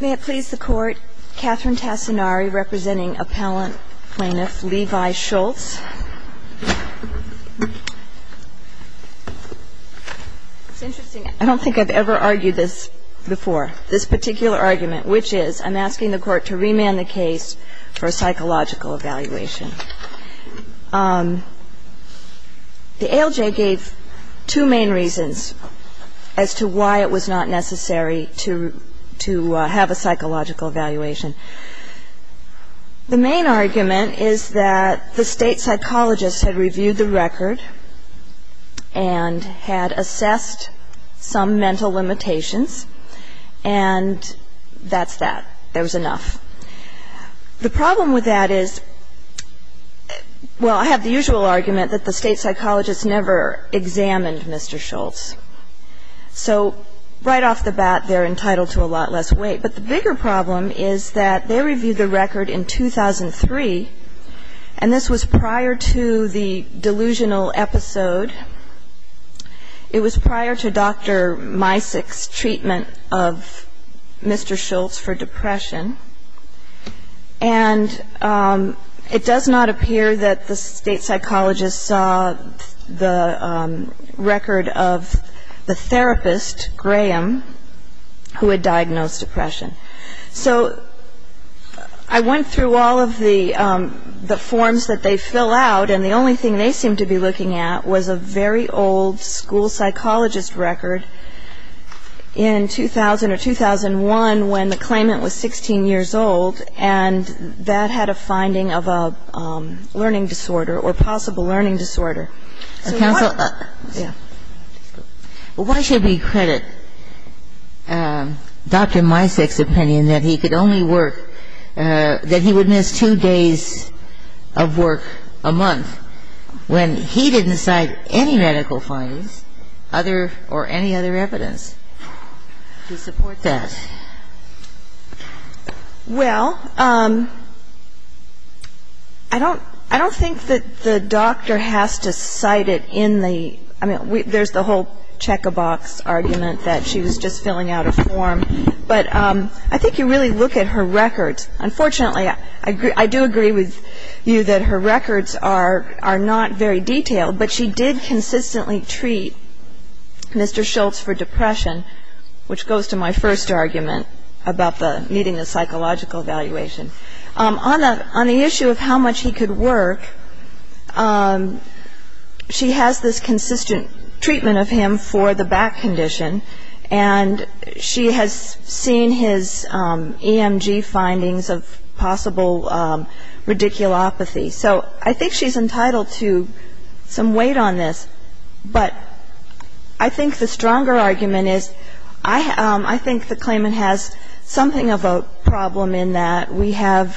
May it please the Court, Catherine Tassinari representing Appellant Plaintiff Levi Schultz. It's interesting, I don't think I've ever argued this before. This particular argument, which is, I'm asking the Court to remand the case for a psychological evaluation. The ALJ gave two main reasons as to why it was not necessary to have a psychological evaluation. The main argument is that the state psychologist had reviewed the record and had assessed some mental limitations and that's that, there was enough. The problem with that is, well, I have the usual argument that the state psychologist never examined Mr. Schultz. So right off the bat, they're entitled to a lot less weight. But the bigger problem is that they reviewed the record in 2003, and this was prior to the delusional episode. It was prior to Dr. Misick's treatment of Mr. Schultz for depression. And it does not appear that the state psychologist saw the record of the therapist, Graham, who had diagnosed depression. So I went through all of the forms that they fill out and the only thing they seem to be looking at was a very old school psychologist record in 2000 or 2001 when the claimant was 16 years old and that had a finding of a learning disorder or possible learning disorder. Why should we credit Dr. Misick's opinion that he could only work, that he would miss two days of work a month when he didn't cite any medical findings or any other evidence to support that? Well, I don't think that the doctor has to cite it in the, I mean, there's the whole check-a-box argument that she was just filling out a form, but I think you really look at her records. Unfortunately, I do agree with you that her records are not very detailed, but she did consistently treat Mr. Schultz for depression, which goes to my first argument about needing a psychological evaluation. On the issue of how much he could work, she has this consistent treatment of him for the back condition and she has seen his EMG findings of possible radiculopathy. So I think she's entitled to some weight on this, but I think the stronger argument is I think the claimant has something of a problem in that we have,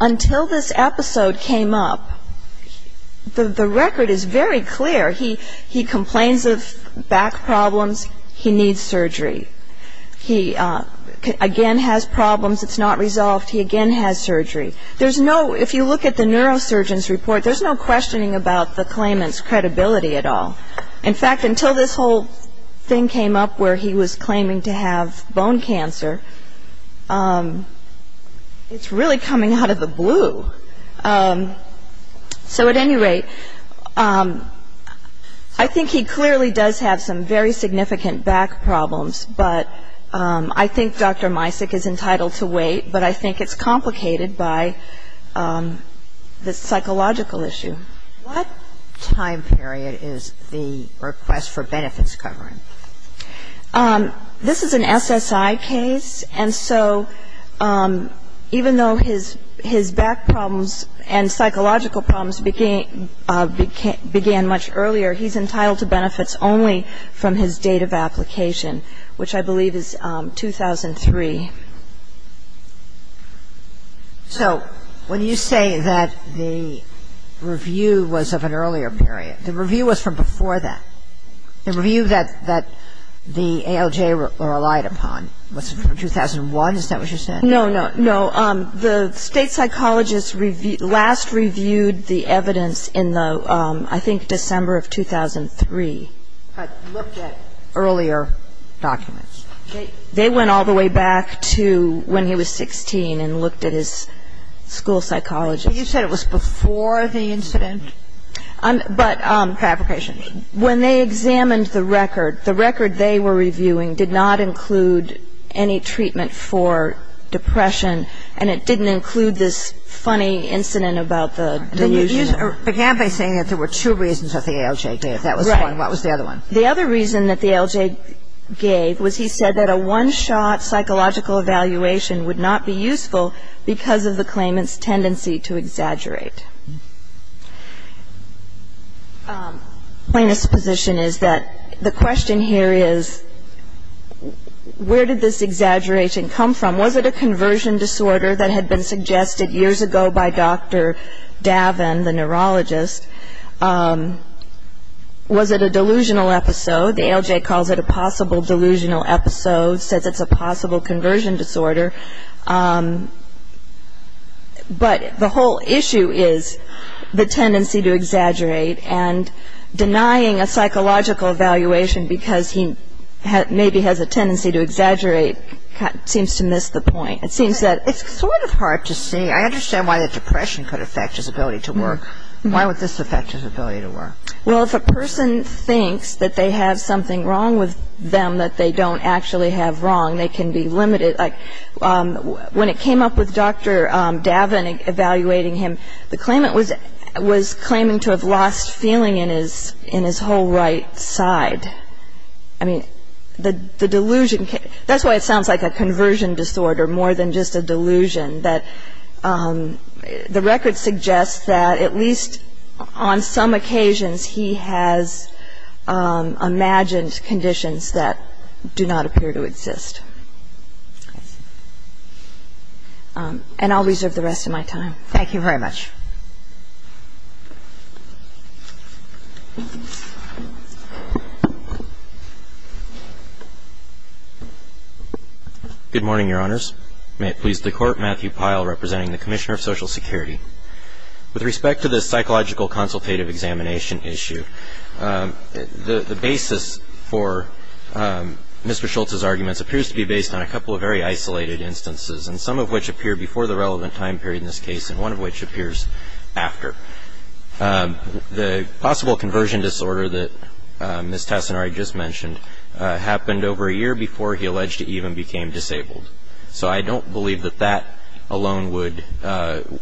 until this episode came up, the record is very clear. He complains of back problems. He needs surgery. He again has problems. It's not resolved. He again has surgery. There's no, if you look at the neurosurgeon's report, there's no questioning about the claimant's credibility at all. In fact, until this whole thing came up where he was claiming to have bone cancer, it's really coming out of the blue. So at any rate, I think he clearly does have some very significant back problems, but I think Dr. Misik is entitled to weight, but I think it's complicated by the psychological issue. What time period is the request for benefits covering? This is an SSI case, and so even though his back problems and psychological problems began much earlier, he's entitled to benefits only from his date of application. And so I think he's entitled to benefits only from his date of application, which I believe is 2003. So when you say that the review was of an earlier period, the review was from before that. The review that the ALJ relied upon was from 2001. Is that what you said? No, no. The state psychologists last reviewed the evidence in the, I think, December of 2003, looked at earlier documents. They went all the way back to when he was 16 and looked at his school psychologist. You said it was before the incident? But when they examined the record, the record they were reviewing did not include any treatment for depression, and it didn't include this funny incident about the delusion. You began by saying that there were two reasons that the ALJ gave. That was one. What was the other one? The other reason that the ALJ gave was he said that a one-shot psychological evaluation would not be useful because of the claimant's tendency to exaggerate. Plaintiff's position is that the question here is where did this exaggeration come from? Was it a conversion disorder that had been suggested years ago by Dr. Davin, the neurologist? Was it a delusional episode? The ALJ calls it a possible delusional episode, says it's a possible conversion disorder. But the whole issue is the tendency to exaggerate, and denying a psychological evaluation because he maybe has a tendency to exaggerate seems to miss the point. It seems that it's sort of hard to see. I understand why the depression could affect his ability to work. Why would this affect his ability to work? Well, if a person thinks that they have something wrong with them that they don't actually have wrong, they can be limited. When it came up with Dr. Davin evaluating him, the claimant was claiming to have lost feeling in his whole right side. That's why it sounds like a conversion disorder more than just a delusion. The record suggests that at least on some occasions he has imagined conditions that do not appear to exist. And I'll reserve the rest of my time. Thank you very much. Good morning, Your Honors. May it please the Court, Matthew Pyle representing the Commissioner of Social Security. With respect to the psychological consultative examination issue, the basis for Mr. Schultz's arguments appears to be based on a couple of very isolated instances, and some of which appear before the relevant time period in this case, and one of which appears after. The possible conversion disorder that Ms. Tassinari just mentioned happened over a year before he alleged he even became disabled. So I don't believe that that alone would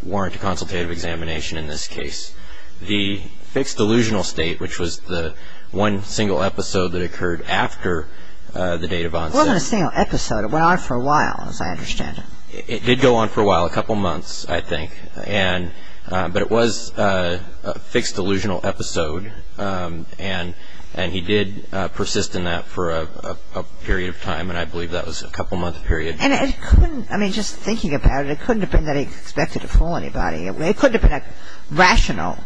warrant a consultative examination in this case. The fixed delusional state, which was the one single episode that occurred after the date of onset. It wasn't a single episode. It went on for a while, as I understand it. It did go on for a while, a couple months, I think. But it was a fixed delusional episode, and he did persist in that for a period of time, and I believe that was a couple-month period. I mean, just thinking about it, it couldn't have been that he expected to fool anybody. It couldn't have been a rational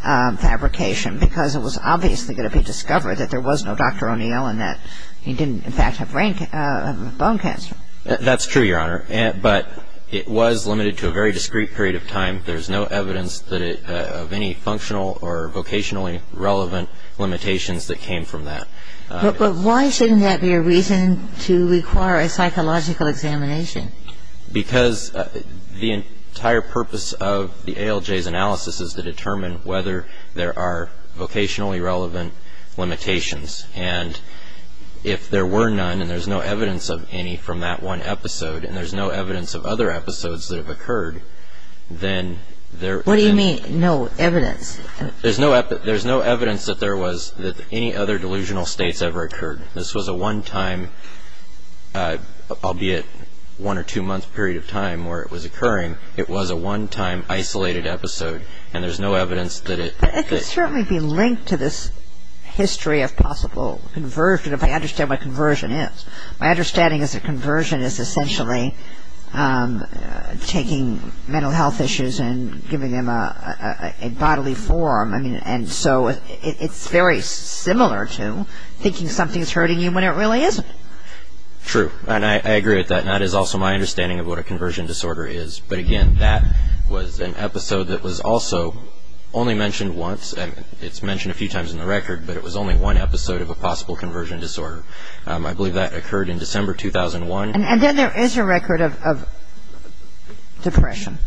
fabrication, because it was obviously going to be discovered that there was no Dr. O'Neill and that he didn't, in fact, have bone cancer. That's true, Your Honor, but it was limited to a very discrete period of time. There's no evidence of any functional or vocationally relevant limitations that came from that. But why shouldn't that be a reason to require a psychological examination? Because the entire purpose of the ALJ's analysis is to determine whether there are vocationally relevant limitations, and if there were none and there's no evidence of any from that one episode and there's no evidence of other episodes that have occurred, then there... What do you mean, no evidence? There's no evidence that any other delusional states ever occurred. This was a one-time, albeit one- or two-month period of time where it was occurring. It was a one-time isolated episode, and there's no evidence that it... It could certainly be linked to this history of possible conversion, if I understand what conversion is. My understanding is that conversion is essentially taking mental health issues and giving them a bodily form. And so it's very similar to thinking something's hurting you when it really isn't. True, and I agree with that, and that is also my understanding of what a conversion disorder is. But again, that was an episode that was also only mentioned once. It's mentioned a few times in the record, but it was only one episode of a possible conversion disorder. I believe that occurred in December 2001. And then there is a record of depression.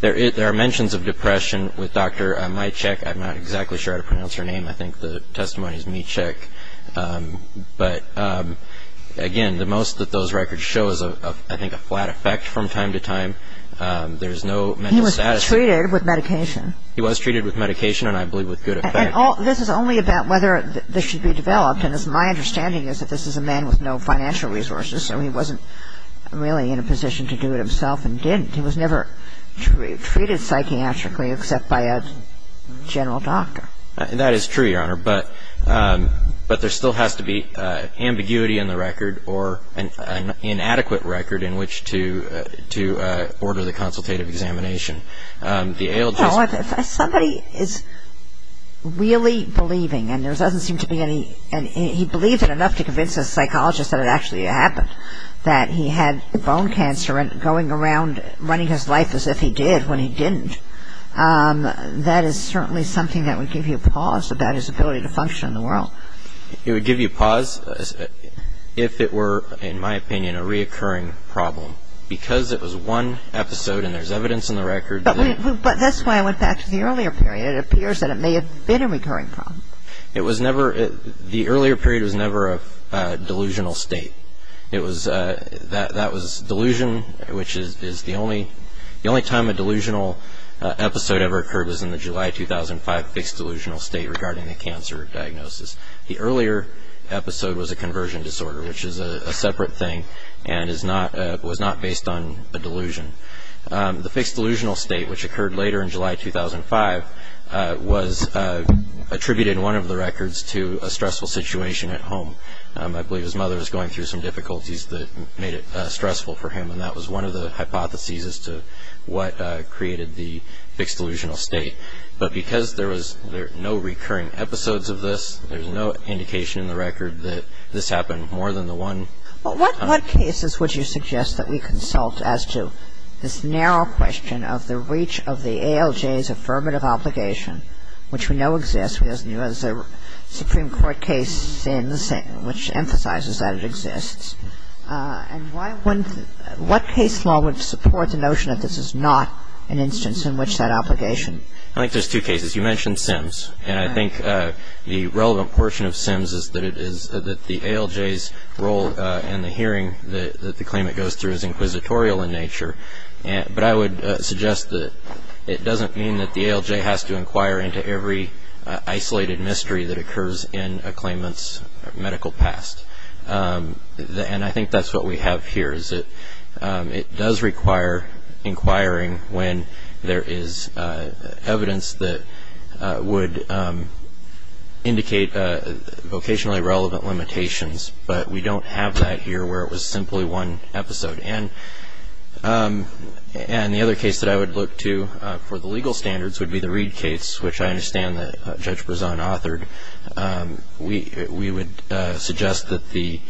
There are mentions of depression with Dr. Mychick. I'm not exactly sure how to pronounce her name. I think the testimony is Mychick. But again, the most that those records show is, I think, a flat effect from time to time. There's no mental status. He was treated with medication. He was treated with medication, and I believe with good effect. And this is only about whether this should be developed, and my understanding is that this is a man with no financial resources, so he wasn't really in a position to do it himself and didn't. He was never treated psychiatrically except by a general doctor. That is true, Your Honor, but there still has to be ambiguity in the record or an inadequate record in which to order the consultative examination. Somebody is really believing, and there doesn't seem to be any. He believed it enough to convince a psychologist that it actually happened, that he had bone cancer and going around running his life as if he did when he didn't. That is certainly something that would give you pause about his ability to function in the world. It would give you pause if it were, in my opinion, a reoccurring problem. Because it was one episode and there's evidence in the record. But that's why I went back to the earlier period. It appears that it may have been a recurring problem. The earlier period was never a delusional state. That was delusion, which is the only time a delusional episode ever occurred was in the July 2005 fixed delusional state regarding the cancer diagnosis. The earlier episode was a conversion disorder, which is a separate thing and was not based on a delusion. The fixed delusional state, which occurred later in July 2005, was attributed in one of the records to a stressful situation at home. I believe his mother was going through some difficulties that made it stressful for him. And that was one of the hypotheses as to what created the fixed delusional state. But because there were no recurring episodes of this, there's no indication in the record that this happened more than the one. What cases would you suggest that we consult as to this narrow question of the reach of the ALJ's affirmative obligation, which we know exists as a Supreme Court case, which emphasizes that it exists? And why wouldn't the – what case law would support the notion that this is not an instance in which that obligation? I think there's two cases. You mentioned Sims. And I think the relevant portion of Sims is that it is – that the ALJ's role in the hearing that the claimant goes through is inquisitorial in nature. But I would suggest that it doesn't mean that the ALJ has to inquire into every isolated mystery that occurs in a claimant's medical past. And I think that's what we have here, is that it does require inquiring when there is evidence that would indicate vocationally relevant limitations. But we don't have that here where it was simply one episode. And the other case that I would look to for the legal standards would be the Reed case, which I understand that Judge Brezon authored. We would suggest that the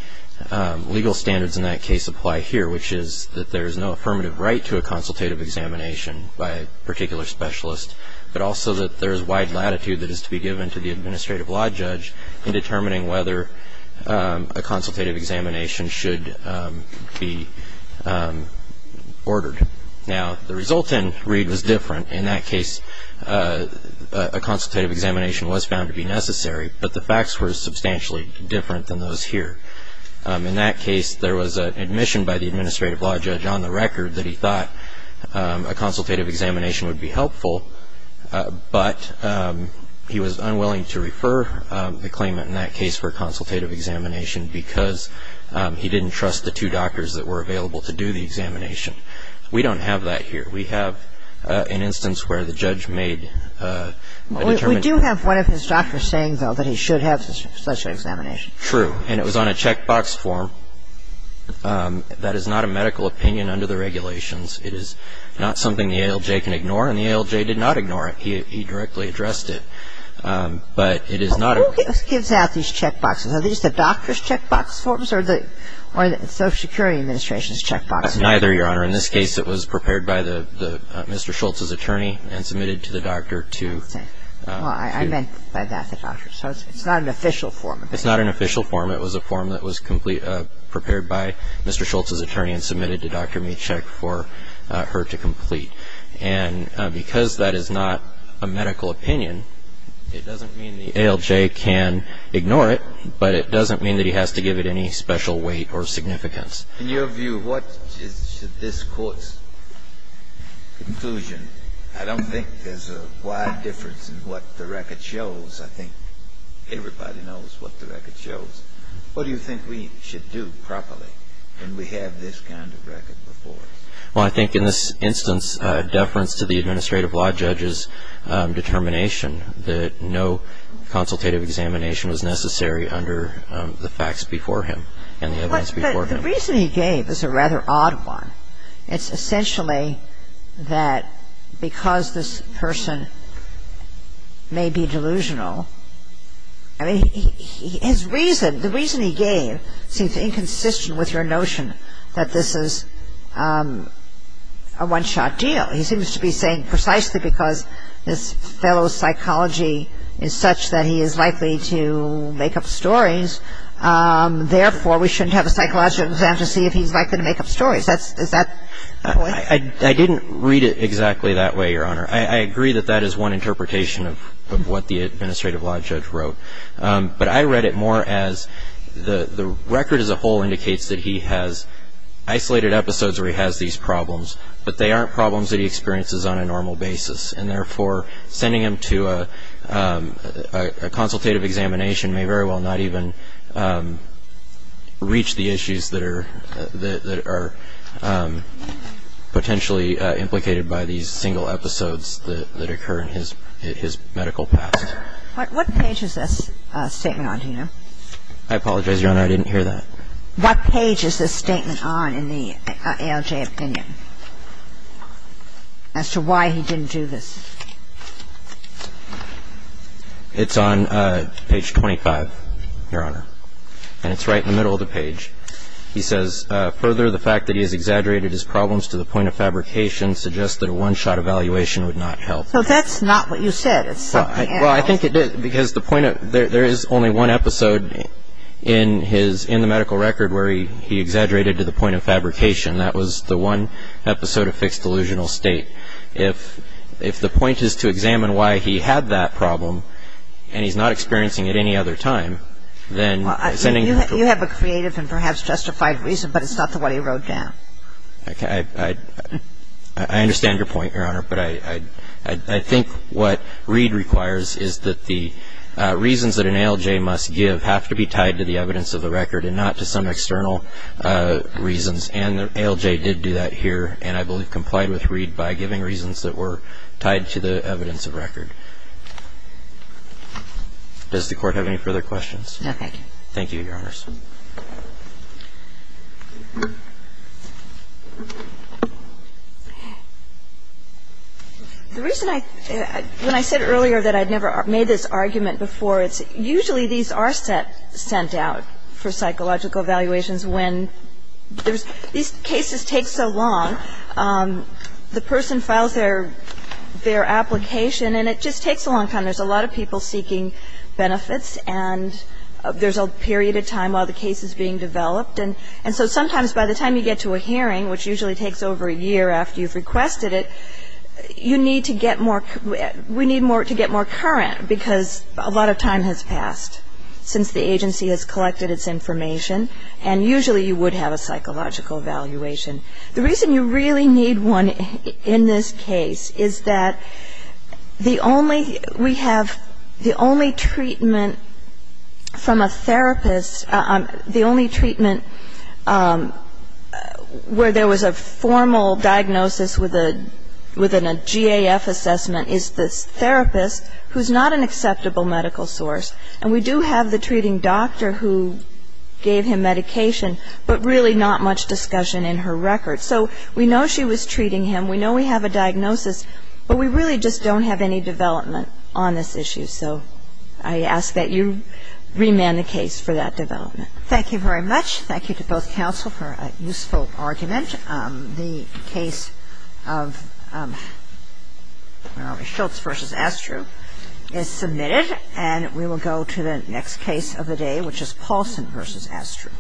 legal standards in that case apply here, which is that there is no affirmative right to a consultative examination by a particular specialist, but also that there is wide latitude that is to be given to the administrative law judge in determining whether a consultative examination should be ordered. Now, the result in Reed was different. In that case, a consultative examination was found to be necessary, but the facts were substantially different than those here. In that case, there was an admission by the administrative law judge on the record that he thought a consultative examination would be helpful, but he was unwilling to refer the claimant in that case for a consultative examination because he didn't trust the two doctors that were available to do the examination. We don't have that here. We have an instance where the judge made a determination. We do have one of his doctors saying, though, that he should have such an examination. True. And it was on a checkbox form. That is not a medical opinion under the regulations. It is not something the ALJ can ignore, and the ALJ did not ignore it. He directly addressed it. But it is not a ---- Who gives out these checkboxes? Are these the doctor's checkbox forms or the Social Security Administration's checkboxes? It's neither, Your Honor. In this case, it was prepared by Mr. Schultz's attorney and submitted to the doctor to ---- Well, I meant by that the doctor. So it's not an official form. It's not an official form. It was a form that was prepared by Mr. Schultz's attorney and submitted to Dr. Michek for her to complete. And because that is not a medical opinion, it doesn't mean the ALJ can ignore it, but it doesn't mean that he has to give it any special weight or significance. In your view, what is this Court's conclusion? I don't think there's a wide difference in what the record shows. I think everybody knows what the record shows. What do you think we should do properly when we have this kind of record before us? Well, I think in this instance, deference to the administrative law judge's determination that no consultative examination was necessary under the facts before him and the evidence before him. But the reason he gave is a rather odd one. It's essentially that because this person may be delusional, I mean, his reason, the reason he gave seems inconsistent with your notion that this is a one-shot deal. He seems to be saying precisely because this fellow's psychology is such that he is likely to make up stories, therefore we shouldn't have a psychological exam to see if he's likely to make up stories. Is that the point? I didn't read it exactly that way, Your Honor. I agree that that is one interpretation of what the administrative law judge wrote. But I read it more as the record as a whole indicates that he has isolated episodes where he has these problems, but they aren't problems that he experiences on a normal basis, and therefore sending him to a consultative examination may very well not even reach the issues that are potentially implicated by these single episodes that occur in his medical past. What page is this statement on here? I apologize, Your Honor. I didn't hear that. What page is this statement on in the ALJ opinion as to why he didn't do this? It's on page 25, Your Honor. And it's right in the middle of the page. He says, further, the fact that he has exaggerated his problems to the point of fabrication suggests that a one-shot evaluation would not help. So that's not what you said. It's something else. Well, I think it is because there is only one episode in the medical record where he exaggerated to the point of fabrication. That was the one episode of fixed delusional state. If the point is to examine why he had that problem and he's not experiencing it any other time, then sending him to a consultative examination may very well not even reach the issues that are potentially implicated by these single episodes I didn't hear that. You have a creative and perhaps justified reason, but it's not the one he wrote down. I understand your point, Your Honor, but I think what Reed requires is that the reasons that an ALJ must give have to be tied to the evidence of the record and not to some external reasons. And the ALJ did do that here and I believe complied with Reed by giving reasons that were tied to the evidence of record. Does the Court have any further questions? No, thank you. Thank you, Your Honors. The reason I – when I said earlier that I'd never made this argument before, it's usually these are sent out for psychological evaluations when there's – these cases take so long. The person files their application and it just takes a long time. There's a lot of people seeking benefits and there's a period of time off. And so sometimes by the time you get to a hearing, which usually takes over a year after you've requested it, you need to get more – we need more – to get more current because a lot of time has passed since the agency has collected its information and usually you would have a psychological evaluation. The reason you really need one in this case is that the only – we have the only treatment from a therapist, the only treatment where there was a formal diagnosis within a GAF assessment is the therapist, who's not an acceptable medical source. And we do have the treating doctor who gave him medication, but really not much discussion in her record. So we know she was treating him, we know we have a diagnosis, but we really just don't have any development on this issue. So I ask that you remand the case for that development. Thank you very much. Thank you to both counsel for a useful argument. The case of Shultz v. Astru is submitted and we will go to the next case of the day, which is Paulson v. Astru.